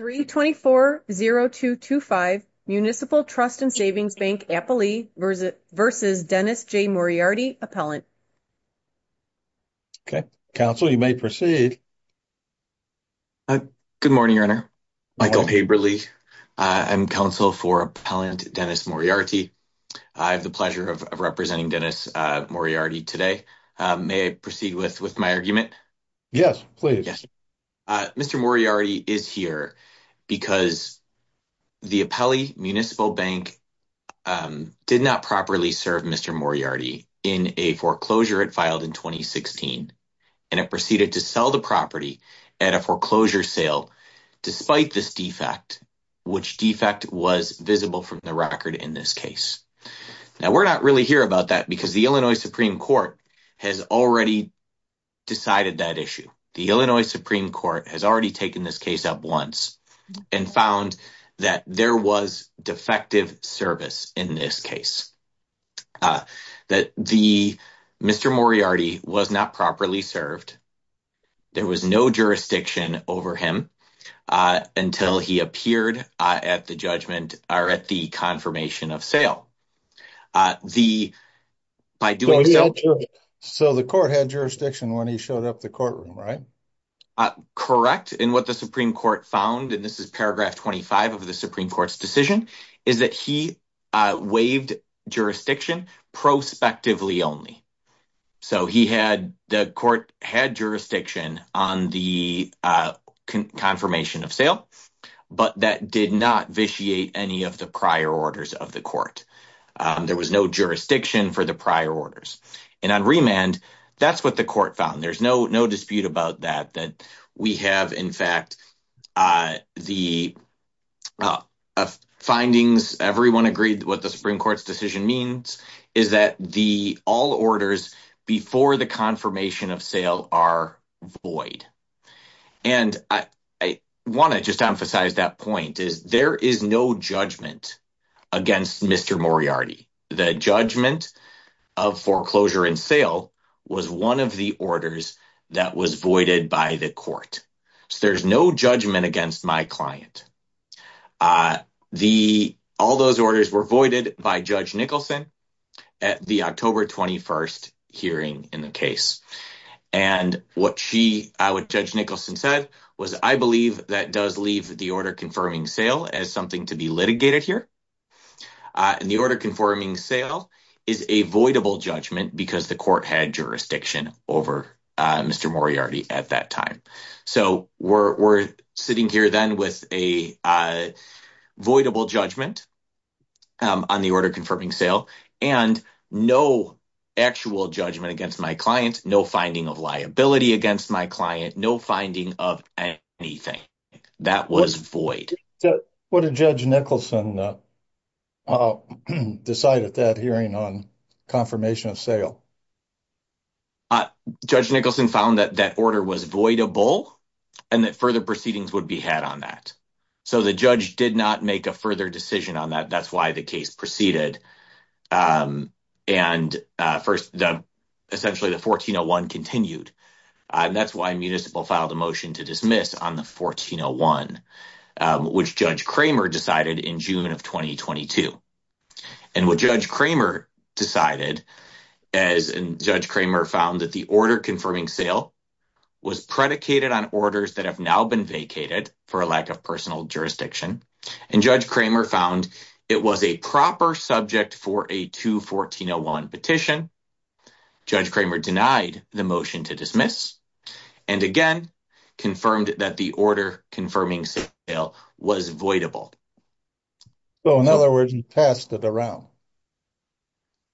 3-24-0-2-2-5 Municipal Trust & Savings Bank, Applee v. Dennis J. Moriarty, Appellant Okay, Counsel, you may proceed. Good morning, Your Honor. Michael Haberle. I'm Counsel for Appellant Dennis Moriarty. I have the pleasure of representing Dennis Moriarty today. May I proceed with my argument? Yes, please. Mr. Moriarty is here because the Appellee Municipal Bank did not properly serve Mr. Moriarty in a foreclosure it filed in 2016, and it proceeded to sell the property at a foreclosure sale despite this defect, which defect was visible from the record in this case. Now, we're not really here about that because the Illinois Supreme Court has already decided that the Illinois Supreme Court has already taken this case up once and found that there was defective service in this case, that Mr. Moriarty was not properly served. There was no jurisdiction over him until he appeared at the judgment or at the confirmation of sale. So, the court had jurisdiction when he showed up the courtroom, right? Correct. And what the Supreme Court found, and this is paragraph 25 of the Supreme Court's decision, is that he waived jurisdiction prospectively only. So, the court had jurisdiction on the confirmation of sale, but that did not vitiate any of the prior orders of the court. There was no jurisdiction for the prior orders. And on remand, that's what the court found. There's no dispute about that, that we have, in fact, the findings, everyone agreed what the Supreme Court's decision means, is that all orders before the confirmation of sale are void. And I want to just emphasize that point, is there is no judgment against Mr. Moriarty. The judgment of foreclosure and sale was one of the orders that was voided by the court. So, there's no judgment against my client. All those orders were voided by Judge Nicholson at the October 21st hearing in the case. And what Judge Nicholson said was, I believe that does leave the order confirming sale as something to be litigated here. And the order confirming sale is a voidable judgment because the court had jurisdiction over Mr. Moriarty at that time. So, we're sitting here then with a voidable judgment on the order confirming sale and no actual judgment against my client, no finding of liability against my client, no finding of anything. That was void. What did Judge Nicholson decide at that hearing on confirmation of sale? Judge Nicholson found that that order was voidable and that further proceedings would be had on that. So, the judge did not make a further decision on that. That's why the case proceeded. And first, essentially, the 1401 continued. And that's why municipal filed a motion to dismiss on the 1401, which Judge Cramer decided in June of 2022. And what Judge Cramer decided, as Judge Cramer found that the order confirming sale was predicated on orders that have now been vacated for a lack of personal jurisdiction, and Judge Cramer found it was a proper subject for a 21401 petition, Judge Cramer denied the motion to dismiss and again confirmed that the order confirming sale was voidable. So, in other words, he passed it around.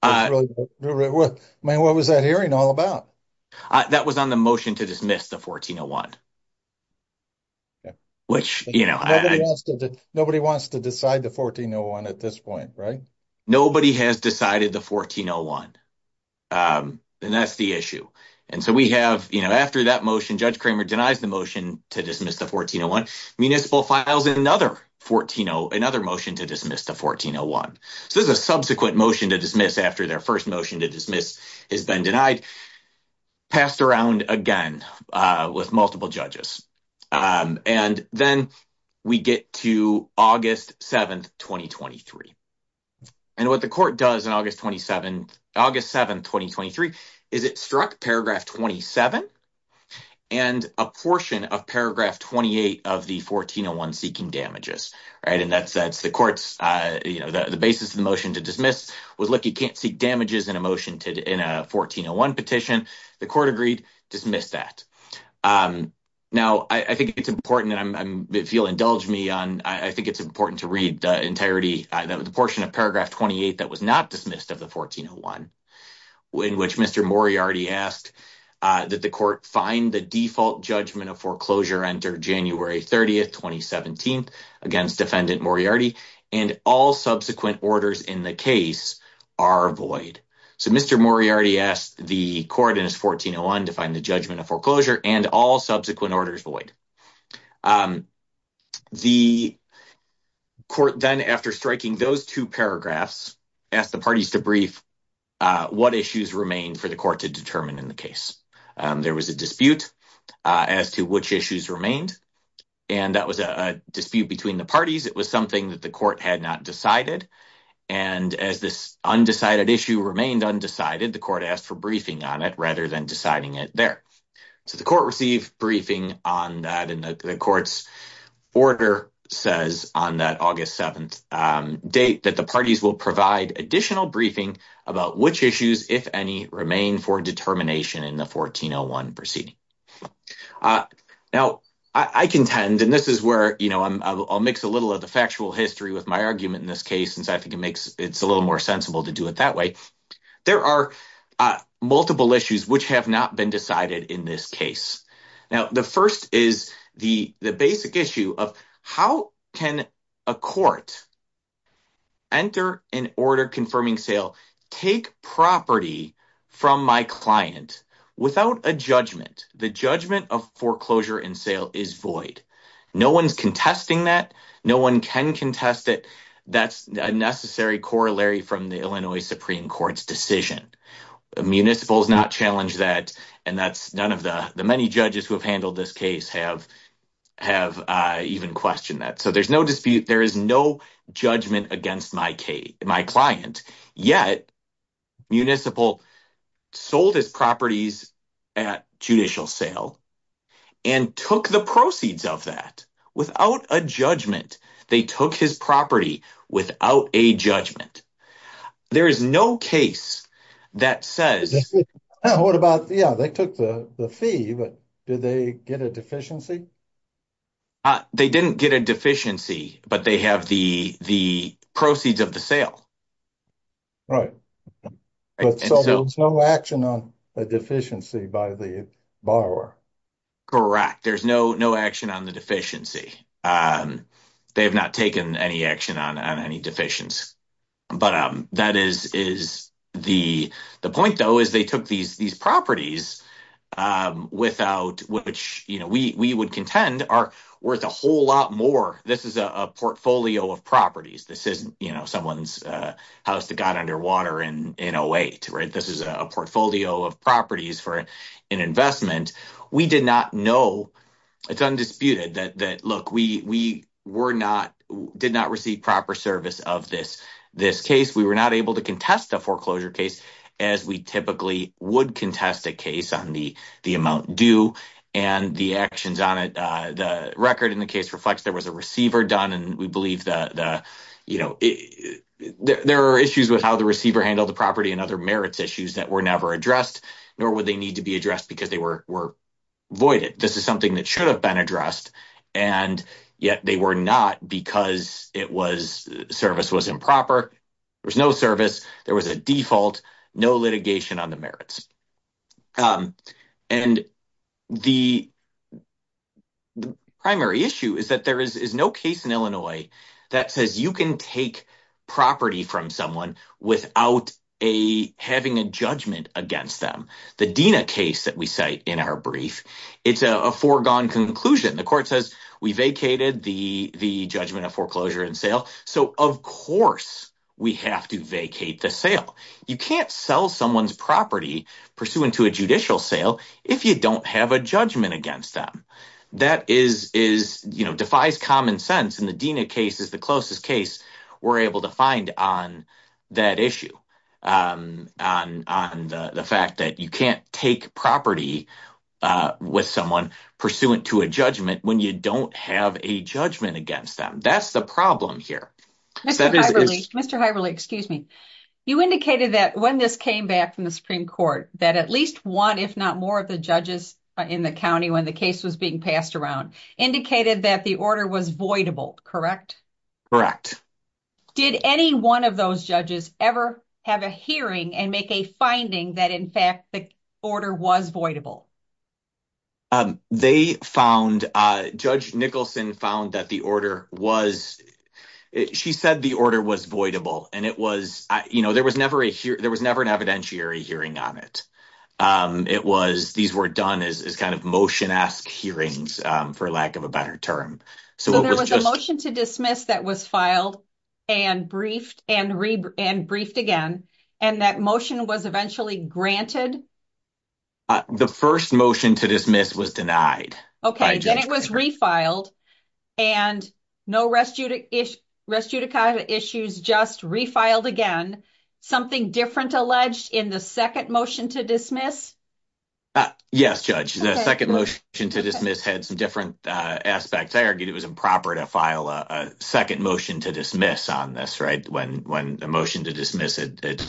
I mean, what was that hearing all about? That was on the motion to dismiss the 1401. Which, you know, nobody wants to decide the 1401 at this point, right? Nobody has decided the 1401. And that's the issue. And so, we have, you know, after that motion, Judge Cramer denies the motion to dismiss the 1401. Municipal files another 1401, another motion to dismiss the 1401. So, this is a subsequent motion to dismiss after their first motion to dismiss has been denied. Passed around again with multiple judges. And then we get to August 7, 2023. And what the court does on August 27, August 7, 2023, is it struck paragraph 27 and a portion of paragraph 28 of the 1401 seeking damages, right? And that's the court's, you know, the basis of the motion to dismiss was, look, you can't seek damages in a motion to 1401 petition. The court agreed to dismiss that. Now, I think it's important, and if you'll indulge me on, I think it's important to read the entirety, the portion of paragraph 28 that was not dismissed of the 1401, in which Mr. Moriarty asked that the court find the default judgment of foreclosure entered January 30, 2017 against Defendant Moriarty and all subsequent orders in the case are void. So, Mr. Moriarty asked the court in his 1401 to find the judgment of foreclosure and all subsequent orders void. The court then, after striking those two paragraphs, asked the parties to brief what issues remained for the court to determine in the case. There was a dispute as to which issues remained, and that was a dispute between the parties. It was something that the court had not decided, and as this undecided issue remained undecided, the court asked for briefing on it rather than deciding it there. So, the court received briefing on that, and the court's order says on that August 7th date that the parties will provide additional briefing about which issues, if any, remain for determination in the 1401 proceeding. Now, I contend, and this is where I'll mix a little of the factual history with my argument in this case, since I think it's a little more sensible to do it that way. There are multiple issues which have not been decided in this case. Now, the first is the basic issue of how can a court enter an order confirming sale, take property from my client without a judgment? The judgment of foreclosure and sale is void. No one's contesting that. No one can contest it. That's a necessary corollary from the Illinois Supreme Court's decision. Municipals not challenge that, and that's none of the many judges who have handled this case have even questioned that. So, there's no dispute. There is no judgment against my client, yet municipal sold his properties at judicial sale and took the proceeds of that without a judgment. They took his property without a judgment. There is no case that says... What about, yeah, they took the fee, but did they get a deficiency? They didn't get a deficiency, but they have the proceeds of the sale. Right. So, there's no action on the deficiency by the borrower. Correct. There's no action on the deficiency. They have not taken any action on any deficiencies. But that is the point, though, is they took these properties, which we would contend are worth a whole lot more. This is a portfolio of properties. This isn't someone's house that got underwater in 08. This is a portfolio of properties for an investment. We did not know. It's undisputed that, look, we did not receive proper service of this case. We were not able to contest a foreclosure case as we typically would contest a case on the amount due and the actions on it, the record in the case reflects there was a receiver done, and we believe the, you know, there are issues with how the receiver handled the property and other merits issues that were never addressed, nor would they need to be addressed because they were voided. This is something that should have been addressed, and yet they were not because service was improper. There was no service. There was a default. No litigation on the merits. And the primary issue is that there is no case in Illinois that says you can take property from someone without having a judgment against them. The Dena case that we cite in our brief, it's a foregone conclusion. The court says we vacated the judgment of foreclosure and sale. So, of course, we have to vacate the sale. You can't sell someone's property pursuant to a judicial sale if you don't have a judgment against them. That defies common sense, and the Dena case is the closest case we're able to find on that issue, on the fact that you can't take property with someone pursuant to a judgment when you don't have a judgment against them. That's the problem here. Mr. Hyerly, excuse me. You indicated that when this came back from the Supreme Court that at least one, if not more, of the judges in the county when the case was being passed around indicated that the order was voidable, correct? Correct. Did any one of those judges ever have a hearing and make a finding that, in fact, the order was voidable? They found, Judge Nicholson said the order was voidable. There was never an evidentiary hearing on it. These were done as kind of motion-esque hearings, for lack of a better term. So, there was a motion to dismiss that was filed and briefed again, and that motion was eventually granted? The first motion to dismiss was denied. Okay, then it was refiled, and no restudicata issues, just refiled again. Something different alleged in the second motion to dismiss? Yes, Judge. The second motion to dismiss had some different aspects. I argued it was improper to file a second motion to dismiss on this. When the motion to dismiss had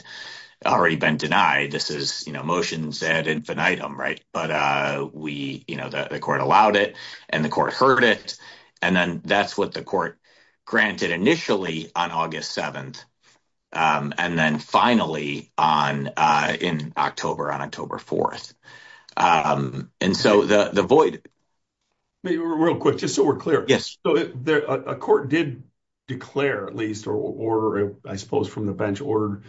already been denied, this is motions ad infinitum. But the court allowed it, and the court heard it, and then that's what the court granted initially on August 7th, and then finally on October 4th. Real quick, just so we're clear. Yes. A court did declare, at least, or I suppose from the bench ordered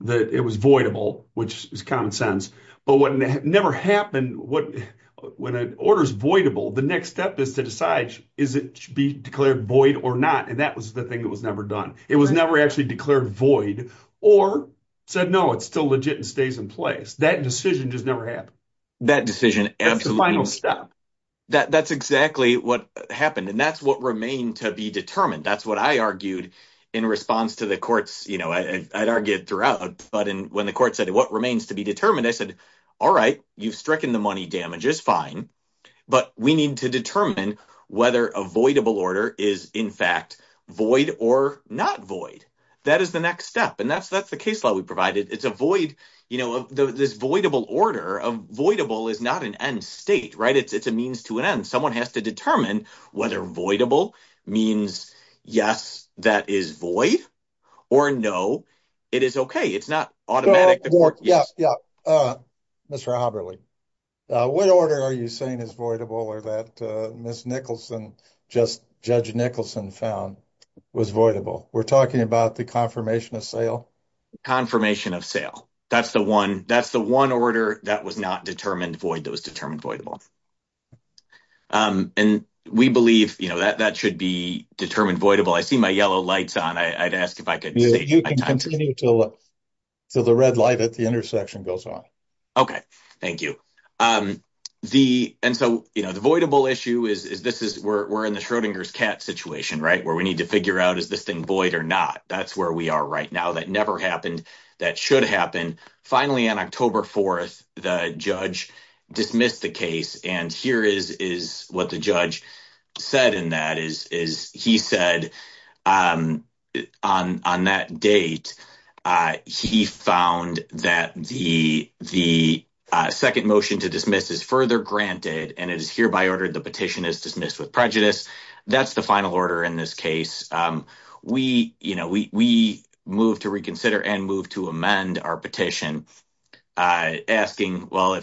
that it was voidable, which is common sense. But what never happened, when an order's voidable, the next step is to decide, is it to be declared void or not? And that was the thing that was never done. It was never actually declared void or said, no, it's still legit and stays in place. That decision just never happened. That decision, absolutely. That's the final step. That's exactly what happened, and that's what remained to be determined. That's what I argued in response to the courts. I'd argue it throughout, but when the court said, what remains to be determined, I said, all right, you've stricken the money damages, fine, but we need to determine whether a voidable order is, in fact, void or not void. That is the next step, and that's the case law we provided. It's a void, this voidable order. Voidable is not an end state, right? It's a means to an end. Someone has to determine whether voidable means yes, that is void, or no, it is okay. It's not automatic. Yeah, yeah. Mr. Haberle, what order are you saying is voidable or that Ms. Nicholson, Judge Nicholson found was voidable? We're talking about the confirmation of sale. Confirmation of sale. That's the one order that was not determined void, that was determined voidable. We believe that should be determined voidable. I see my yellow lights on. I'd ask if I could save my time. You can continue until the red light at the intersection goes on. Okay, thank you. The voidable issue is, we're in the Schrodinger's cat situation, right, where we need to figure out is this thing void or not. That's where we are right now. That never happened. That should happen. Finally, on October 4th, the judge dismissed the case, and here is what the judge said in that. He said on that date, he found that the second motion to dismiss is further granted, and it is hereby ordered the petition is dismissed with prejudice. That's the final order in this case. We moved to reconsider and moved to amend our petition, asking, well,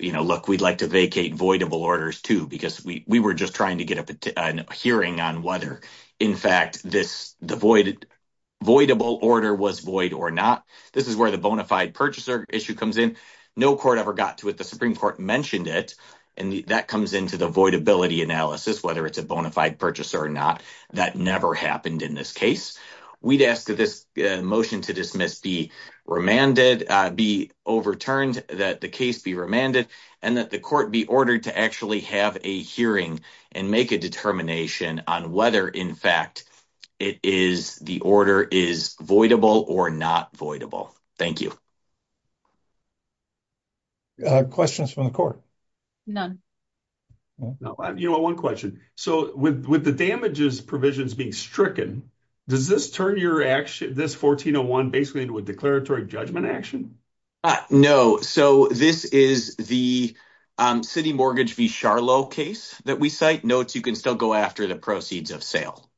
look, we'd like to vacate voidable orders too, because we were just trying to get a hearing on whether, in fact, the voidable order was void or not. This is where the bona fide purchaser issue comes in. No court ever got to it. The voidability analysis, whether it's a bona fide purchaser or not, that never happened in this case. We'd ask that this motion to dismiss be remanded, be overturned, that the case be remanded, and that the court be ordered to actually have a hearing and make a determination on whether, in fact, the order is voidable or not voidable. Thank you. Questions from the court? None. You know, one question. So with the damages provisions being stricken, does this turn this 1401 basically into a declaratory judgment action? No. So this is the city mortgage v. Sharlow case that we cite. Note, you can still go after the proceeds of sale.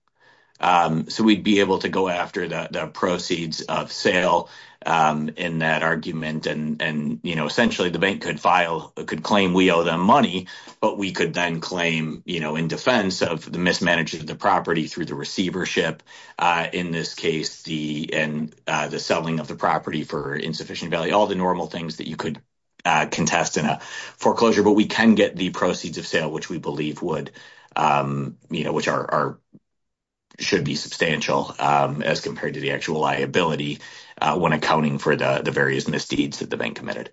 So we'd be able to go after the proceeds of sale in that argument. And, you know, essentially the bank could file, could claim we owe them money, but we could then claim, you know, in defense of the mismanagement of the property through the receivership, in this case, the selling of the property for insufficient value, all the normal things that you could contest in a foreclosure. But we can get the proceeds of sale, which we believe would, you know, which are, should be substantial as compared to the actual liability when accounting for the various misdeeds that the bank committed.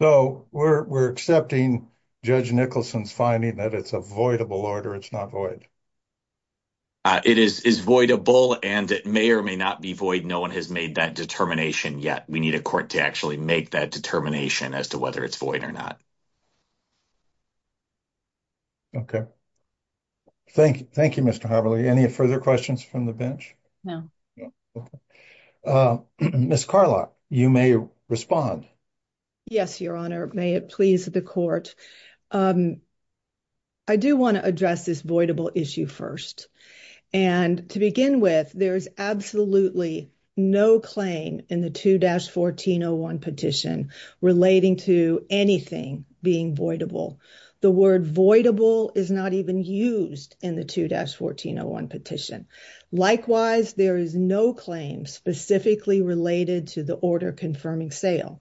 So we're accepting Judge Nicholson's finding that it's a voidable order. It's not void. It is voidable, and it may or may not be void. No one has made that determination yet. We need a court to actually make that determination as whether it's void or not. Okay. Thank you. Thank you, Mr. Haberle. Any further questions from the bench? No. Okay. Ms. Carlock, you may respond. Yes, Your Honor. May it please the court. I do want to address this voidable issue first. And to begin with, there's absolutely no claim in the 2-1401 petition relating to anything being voidable. The word voidable is not even used in the 2-1401 petition. Likewise, there is no claim specifically related to the order confirming sale.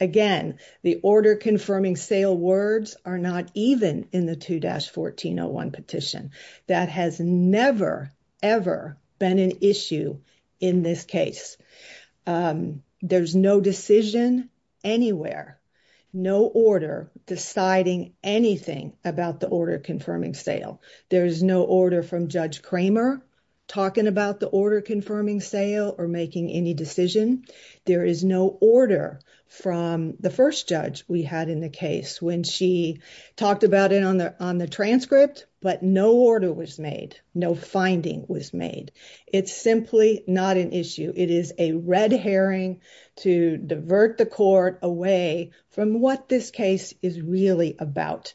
Again, the order confirming sale words are not even in the 2-1401 petition. That has never, ever been an issue in this case. There's no decision anywhere, no order deciding anything about the order confirming sale. There is no order from Judge Kramer talking about the order confirming sale or making any decision. There is no order from the first judge we had in the case when she talked about it on the transcript, but no order was made. No finding was made. It's simply not an issue. It is a red herring to divert the court away from what this case is really about.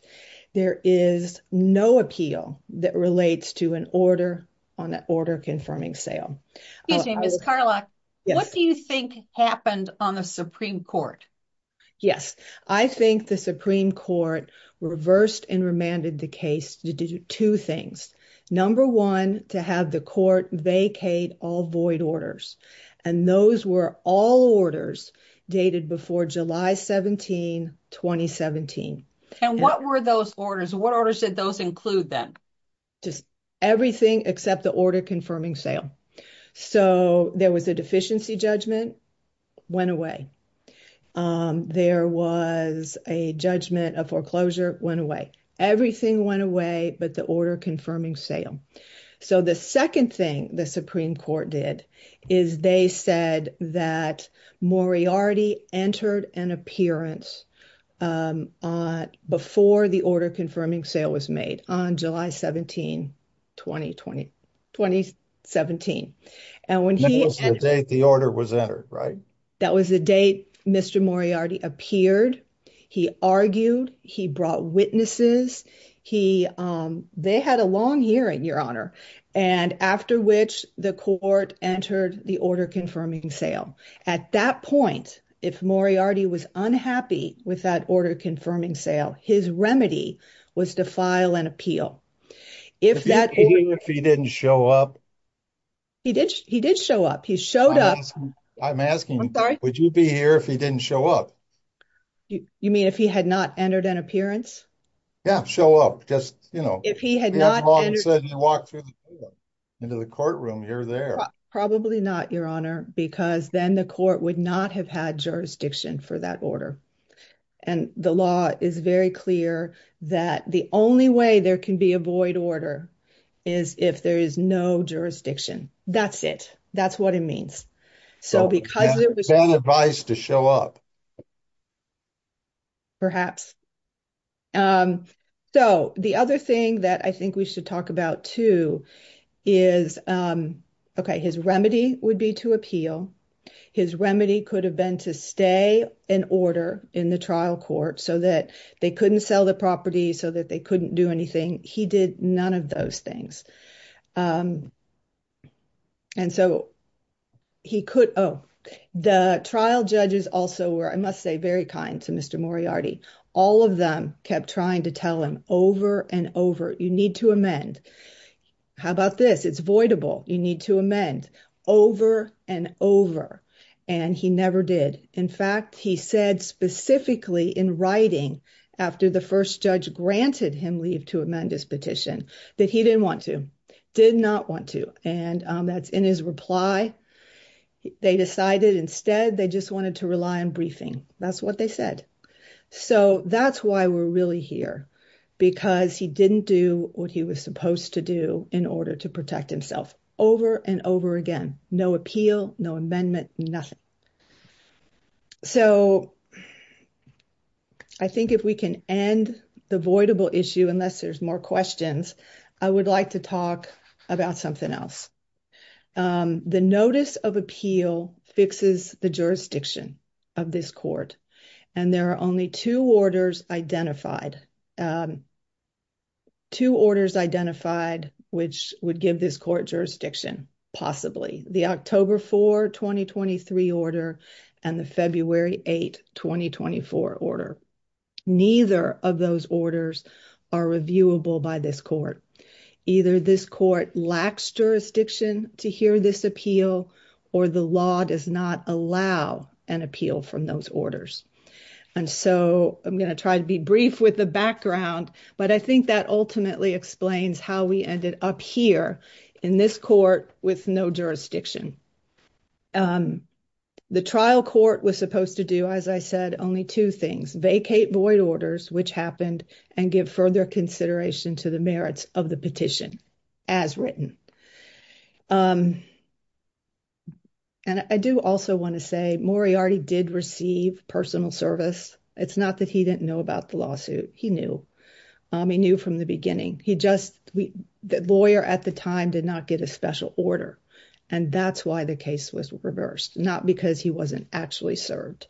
There is no appeal that relates to an order on the order confirming sale. Excuse me, Ms. Karlock, what do you think happened on the Supreme Court? Yes, I think the Supreme Court reversed and remanded the case to do two things. Number one, to have the court vacate all void orders. And those were all orders dated before July 17, 2017. And what were those orders? What orders did those include then? Just everything except the order confirming sale. So, there was a deficiency judgment, went away. There was a judgment of foreclosure, went away. Everything went away but the order confirming sale. So, the second thing the Supreme Court did is they said that Moriarty entered an appearance before the order confirming sale was made on July 17, 2017. And when he... That was the date the order was entered, right? That was the date Mr. Moriarty appeared. He argued. He brought witnesses. They had a long hearing, Your Honor, and after which the court entered the order confirming sale. At that point, if Moriarty was unhappy with that order confirming sale, his remedy was to file an appeal. If that... Would you be here if he didn't show up? He did show up. He showed up. I'm asking you, would you be here if he didn't show up? You mean if he had not entered an appearance? Yeah, show up. Just, you know... If he had not entered... He walked into the courtroom here or there. Probably not, Your Honor, because then the court would not have had jurisdiction for that order. And the law is very clear that the only way there can be a void order is if there is no jurisdiction. That's it. That's what it means. So, because... So, it's not advised to show up. Perhaps. So, the other thing that I think we should talk about too is, okay, his remedy would be to appeal. His remedy could have been to stay in order in the trial court so that they couldn't sell the property, so that they couldn't do anything. He did none of those things. And so, he could... Oh, the trial judges also were, I must say, very kind to Mr. Moriarty. All of them kept trying to tell him over and over, you need to amend. How about this? It's voidable. You need to amend over and over. And he never did. In fact, he said specifically in writing, after the first judge granted him leave to amend his petition, that he didn't want to, did not want to. And that's in his reply. They decided instead they just wanted to rely on briefing. That's what they said. So, that's why we're really here, because he didn't do what he was supposed to do in order to protect himself over and over again. No appeal, no amendment, nothing. So, I think if we can end the voidable issue, unless there's more questions, I would like to talk about something else. The notice of appeal fixes the jurisdiction of this court. And there are only two orders identified, two orders identified, which would give this court jurisdiction, possibly. The October 4, 2023 order and the February 8, 2024 order. Neither of those orders are reviewable by this court. Either this court lacks jurisdiction to hear this appeal, or the law does not allow an appeal from those orders. And so, I'm going to try to be brief with the background, but I think that ultimately explains how we ended up here in this court with no jurisdiction. The trial court was supposed to do, as I said, only two things, vacate void orders, which happened, and give further consideration to the merits of the petition as written. And I do also want to say Moriarty did receive personal service. It's not that he didn't know about the lawsuit. He knew. He knew from the beginning. He just, the lawyer at the time, did not get a special order. And that's why the case was reversed, not because he wasn't actually served.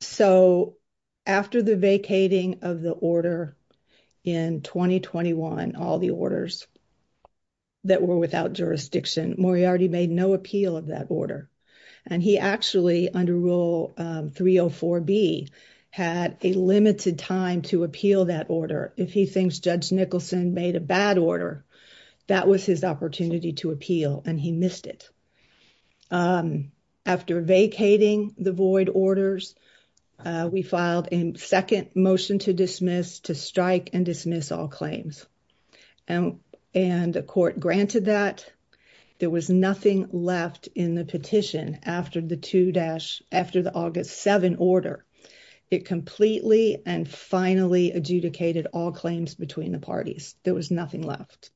So, after the vacating of the order in 2021, all the orders that were without jurisdiction, Moriarty made no appeal of that order. And he actually, under Rule 304B, had a limited time to appeal that order. If he thinks Judge Nicholson made a bad order, that was his opportunity to appeal, and he missed it. After vacating the void orders, we filed a second motion to strike and dismiss all claims. And the court granted that. There was nothing left in the petition after the August 7 order. It completely and finally adjudicated all claims between the parties. There was nothing left.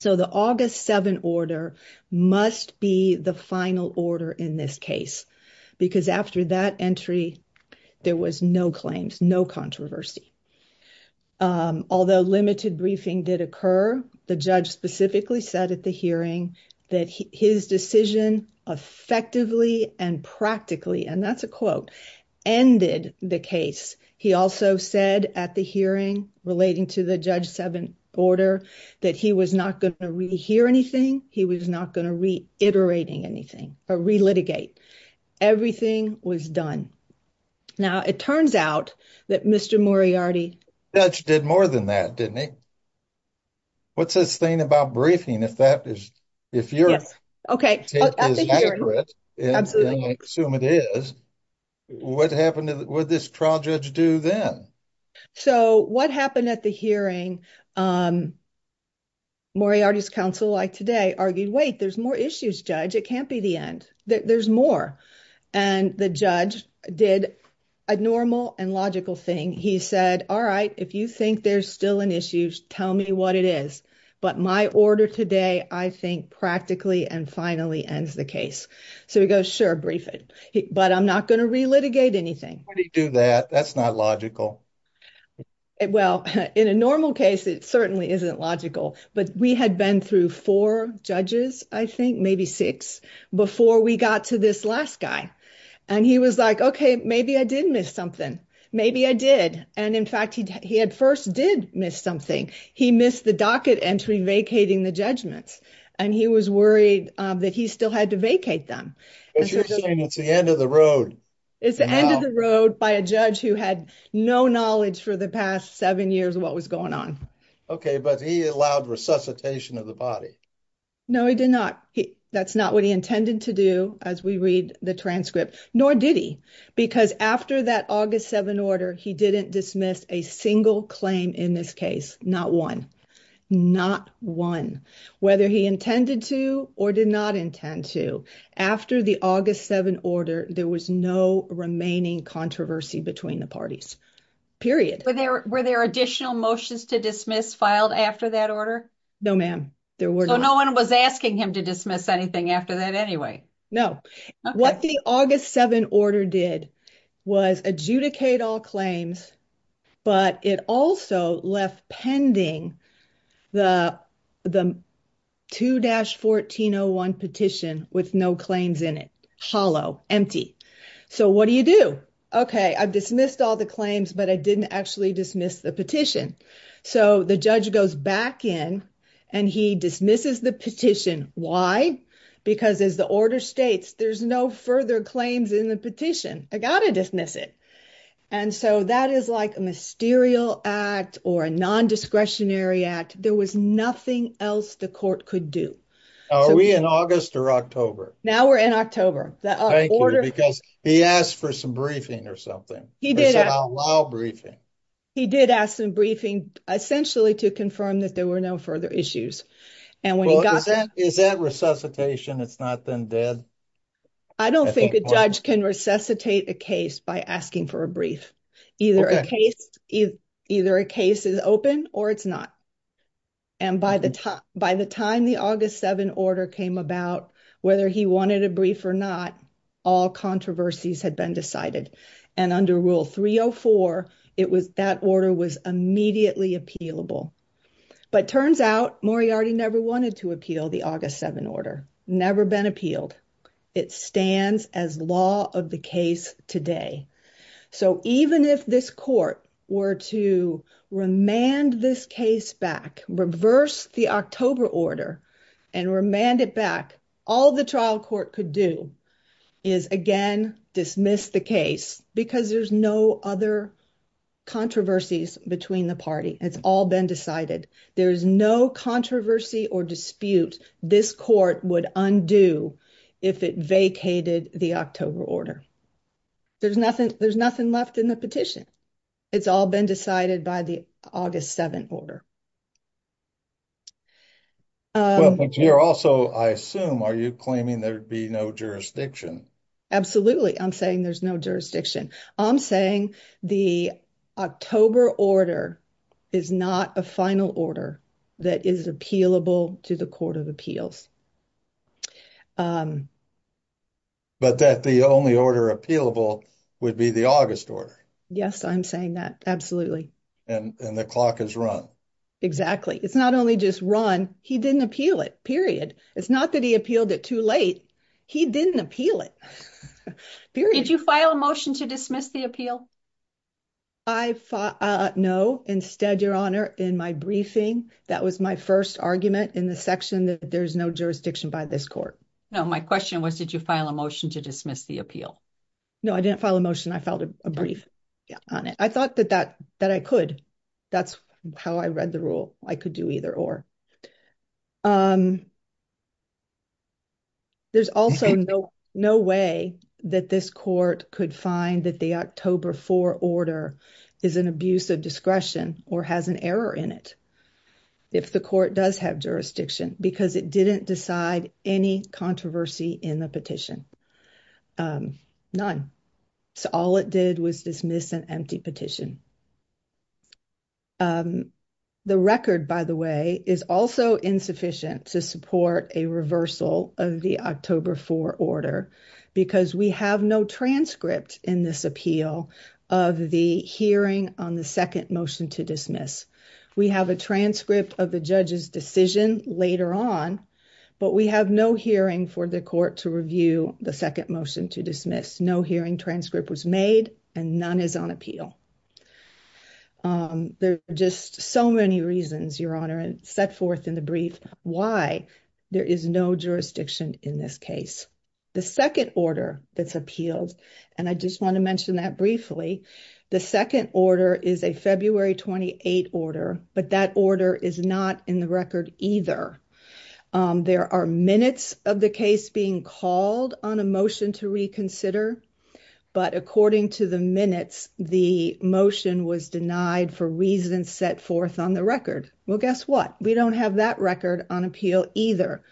So, the August 7 order must be the final order in this case, because after that entry, there was no claims, no controversy. Although limited briefing did occur, the judge specifically said at the hearing that his decision effectively and practically, and that's a quote, ended the case. He also said at the hearing, relating to the Judge 7 order, that he was not going to re-hear anything, he was not going to re-iterate anything, or re-litigate. Everything was done. Now, it turns out that Mr. Moriarty... The judge did more than that, didn't he? What's his thing about briefing, if that is, if you're... Yes, okay. At the hearing... I assume it is. What happened, what did this trial judge do then? So, what happened at the hearing, Moriarty's counsel, like today, argued, wait, there's more issues, Judge. It can't be the end. There's more. And the judge did a normal and logical thing. He said, all right, if you think there's still an issue, tell me what it is. But my order today, I think, practically and finally ends the case. So, he goes, sure, brief it. But I'm not going to re-litigate anything. How did he do that? That's not logical. Well, in a normal case, it certainly isn't logical. But we had been through four judges, I think, maybe six, before we got to this last guy. And he was like, okay, maybe I did miss something. Maybe I did. And in fact, he at first did miss something. He missed the docket entry, vacating the judgments. And he was worried that he still had to vacate them. But you're saying it's the end of the road. It's the end of the road by a judge who had no knowledge for the past seven years of what was going on. Okay, but he allowed resuscitation of the body. No, he did not. That's not what he intended to do, as we read the transcript. Nor did he. Because after that August 7 order, he didn't dismiss a single claim in this case. Not one. Not one. Whether he intended to or did not intend to. After the August 7 order, there was no remaining controversy between the parties. Period. Were there additional motions to dismiss filed after that order? No, ma'am. There were not. So, no one was asking him to dismiss anything after that anyway? No. What the August 7 order did was adjudicate all claims, but it also left pending the 2-1401 petition with no claims in it. Hollow. Empty. So, what do you do? Okay, I've dismissed all the claims, but I didn't actually dismiss the petition. So, the judge goes back in and he dismisses the petition. Why? Because as the order states, there's no further claims in the petition. I gotta dismiss it. And so, that is like a mysterial act or a non-discretionary act. There was nothing else the court could do. Are we in August or October? Now, we're in October. Because he asked for some briefing or something. He did. He said, I'll allow briefing. He did ask some briefing, essentially to confirm that there were no further issues. Is that resuscitation? It's not then dead? I don't think a judge can resuscitate a case by asking for a brief. Either a case is open or it's not. And by the time the August 7 order came about, whether he wanted a brief or not, all controversies had been decided. And under Rule 304, that order was immediately appealable. But turns out Moriarty never wanted to appeal the August 7 order. Never been appealed. It stands as law of the case today. So, even if this court were to remand this case back, reverse the October order, and remand it back, all the trial court could do is, again, dismiss the case. Because there's no other controversies between the party. It's all been decided. There's no controversy or dispute this court would undo if it vacated the October order. There's nothing left in the petition. It's all been decided by the August 7 order. Well, but you're also, I assume, are you claiming there'd be no jurisdiction? Absolutely. I'm saying there's no jurisdiction. I'm saying the October order is not a final order that is appealable to the Court of Appeals. But that the only order appealable would be the August order. Yes, I'm saying that. Absolutely. And the clock has run. Exactly. It's not only just run. He didn't appeal it, period. It's not that he appealed it too late. He didn't appeal it, period. Did you file a motion to dismiss the appeal? I, no. Instead, Your Honor, in my briefing, that was my first argument in the section that there's no jurisdiction by this court. No, my question was, did you file a motion to dismiss the appeal? No, I didn't file a motion. I filed a brief on it. I thought that I could. That's how I read the rule. I could do either or. There's also no way that this court could find that the October 4 order is an abuse of discretion or has an error in it if the court does have jurisdiction because it didn't decide any controversy in the petition. None. So all it did was dismiss an empty petition. And the record, by the way, is also insufficient to support a reversal of the October 4 order because we have no transcript in this appeal of the hearing on the second motion to dismiss. We have a transcript of the judge's decision later on, but we have no hearing for the court to review the second motion to dismiss. No hearing transcript was made and none is on appeal. There are just so many reasons, Your Honor, and set forth in the brief why there is no jurisdiction in this case. The second order that's appealed, and I just want to mention that briefly, the second order is a February 28 order, but that order is not in the record either. There are minutes of the case being called on a motion to reconsider, but according to the minutes, the motion was denied for reasons set forth on the record. Well, guess what? We don't have that record on appeal either.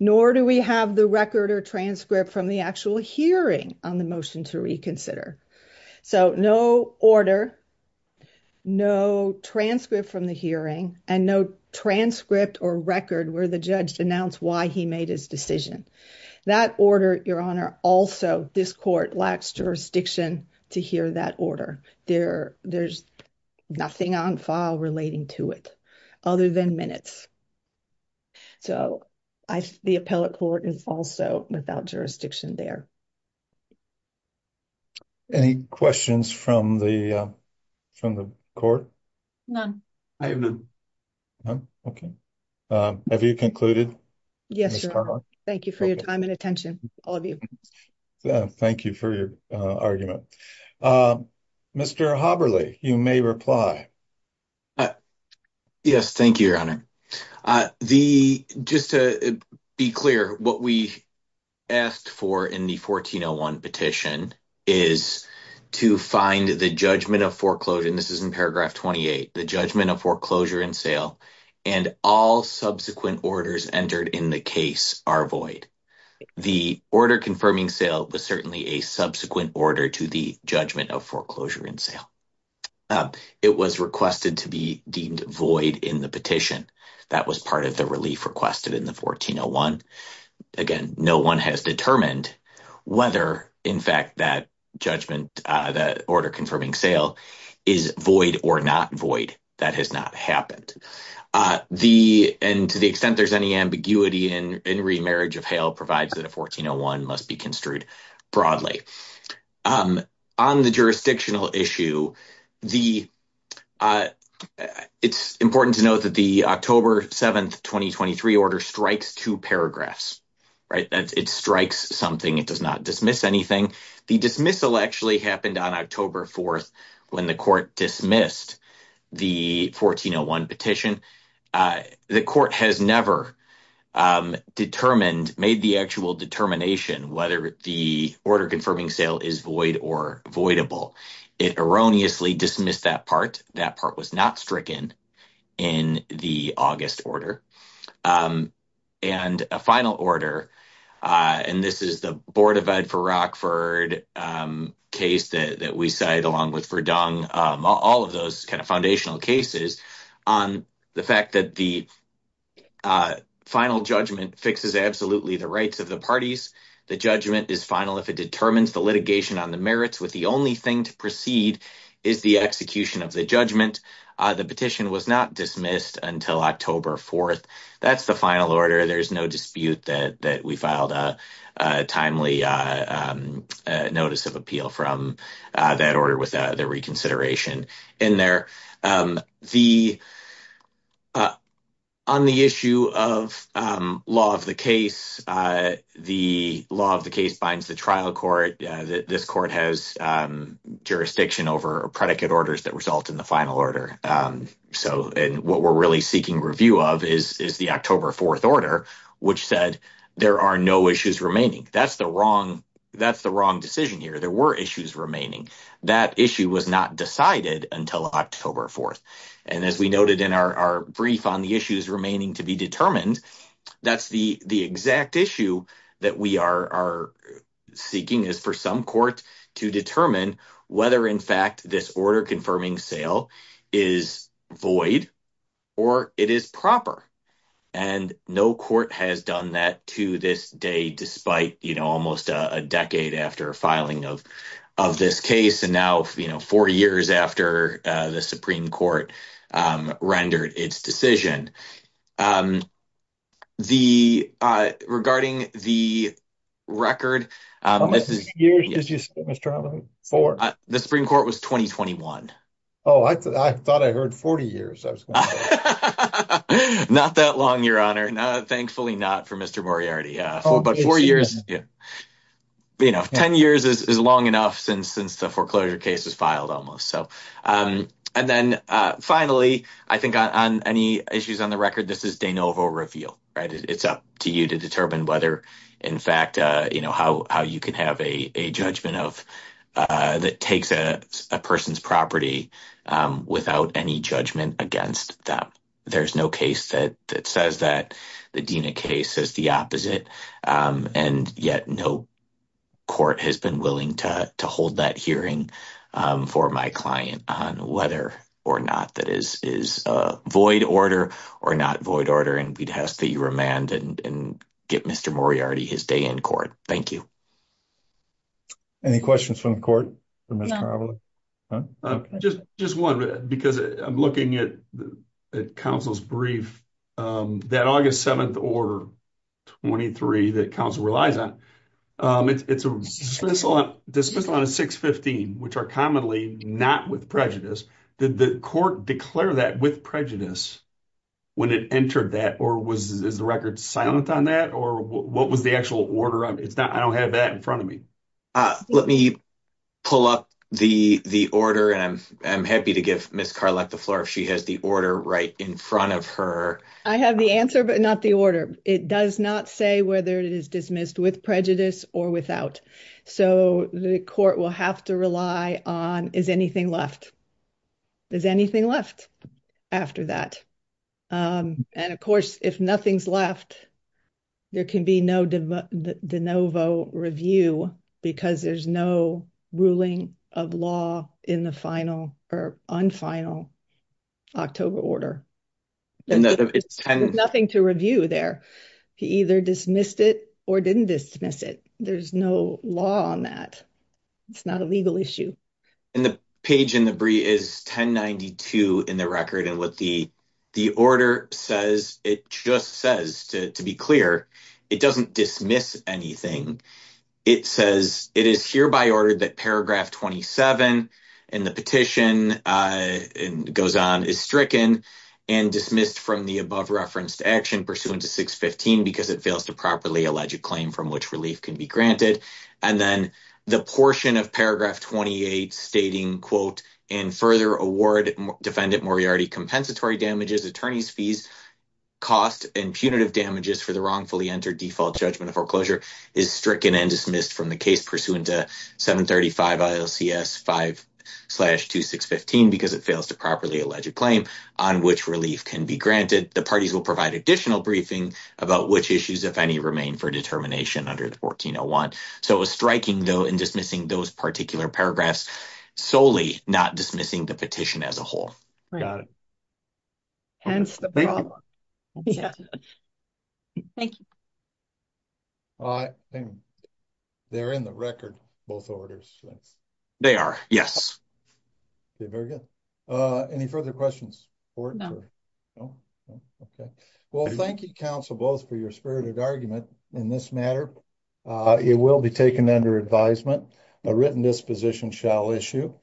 Nor do we have the record or transcript from the actual hearing on the motion to reconsider. So no order, no transcript from the hearing, and no transcript or record where the judge announced why he made his decision. That order, Your Honor, also, this court lacks jurisdiction to hear that order. There's nothing on file relating to it other than minutes. So the appellate court is also without jurisdiction there. Any questions from the court? None. I have none. None? Okay. Have you concluded? Yes, Your Honor. Thank you for your time and attention, all of you. Thank you for your argument. Mr. Haberle, you may reply. Yes, thank you, Your Honor. Just to be clear, what we asked for in the 1401 petition is to find the judgment of foreclosure, this is in paragraph 28, the judgment of foreclosure in sale, and all subsequent orders entered in the case are void. The order confirming sale was certainly a subsequent order to the judgment of foreclosure in sale. It was requested to be deemed void in the petition. That was part of the relief requested in the 1401. Again, no one has determined whether, in fact, that judgment, the order confirming sale, is void or not void. That has not happened. And to the extent there's any ambiguity in remarriage of hail provides that a 1401 must be construed broadly. On the jurisdictional issue, it's important to note that the October 7, 2023 order strikes two paragraphs. It strikes something. It does not dismiss anything. The dismissal actually happened on October 4 when the court dismissed the 1401 petition. The court has never made the actual determination whether the order confirming sale is void or voidable. It erroneously dismissed that part. That part was not stricken in the August order. And a final order, and this is the Board of Ed for Rockford case that we cited along with Verdung, all of those kind of foundational cases, on the fact that the final judgment fixes absolutely the rights of the parties. The judgment is final if it determines the litigation on the merits, with the only thing to precede is the execution of the judgment. The petition was not dismissed until October 4. That's the final order. There's no dispute that we filed a timely notice of appeal from that order with the reconsideration in there. On the issue of law of the case, the law of the case binds the trial court. This court has jurisdiction over predicate orders that result in the final order. And what we're really seeking review of is the October 4 order, which said there are no issues remaining. That's the wrong decision here. There were issues remaining. That issue was not decided until October 4. And as we noted in our brief on the issues remaining to be determined, that's the exact issue that we are seeking is for some courts to determine whether, in fact, this order confirming sale is void or it is proper. And no court has done that to this day, despite almost a decade after filing of this case, and now four years after the Supreme Court rendered its decision. Regarding the record, the Supreme Court was 2021. Oh, I thought I heard 40 years. Not that long, Your Honor. Thankfully, not for Mr. Moriarty. But four years, you know, 10 years is long enough since the foreclosure case was filed almost. So and then finally, I think on any issues on the record, this is de novo reveal, right? It's up to you to determine whether, in fact, you know, how you can have a judgment of that takes a person's property without any judgment against them. There's no case that says that the Dena case is the opposite. And yet no court has been willing to hold that hearing for my client on whether or not that is is a void order or not void order. And we'd have to remand and get Mr. Moriarty his day in court. Thank you. Any questions from the court? Just just one, because I'm looking at the council's brief that August 7th, 23 that council relies on. It's a dismissal on a 615, which are commonly not with prejudice. Did the court declare that with prejudice when it entered that? Or was the record silent on that? Or what was the actual order? It's not I don't have that in front of me. Let me pull up the the order. And I'm happy to give Miss Carlec the floor if she has the order right in front of her. I have the answer, but not the order. It does not say whether it is dismissed with prejudice or without. So the court will have to rely on. Is anything left? Is anything left after that? And of course, if nothing's left, there can be no de novo review because there's no ruling of law in the final or unfinal October order. Nothing to review there. He either dismissed it or didn't dismiss it. There's no law on that. It's not a legal issue. And the page in the brief is 1092 in the record. And what the order says, it just says to be clear, it doesn't dismiss anything. It says it is hereby ordered that paragraph 27 in the petition goes on is stricken and dismissed from the above reference to action pursuant to 615 because it fails to properly allege a claim from which relief can be granted. And then the portion of paragraph 28 stating, quote, and further award defendant compensatory damages, attorney's fees, cost and punitive damages for the wrongfully entered default judgment of foreclosure is stricken and dismissed from the case pursuant to 735 ILCS 5 slash 2615 because it fails to properly allege a claim on which relief can be granted. The parties will provide additional briefing about which issues, if any, remain for determination under the 1401. So it was striking, though, in dismissing those particular paragraphs, solely not dismissing the petition as a whole. Got it. Hence the problem. Thank you. They're in the record, both orders. They are. Yes. Very good. Any further questions? Well, thank you, counsel, both for your spirited argument in this matter. It will be taken under advisement. A written disposition shall issue.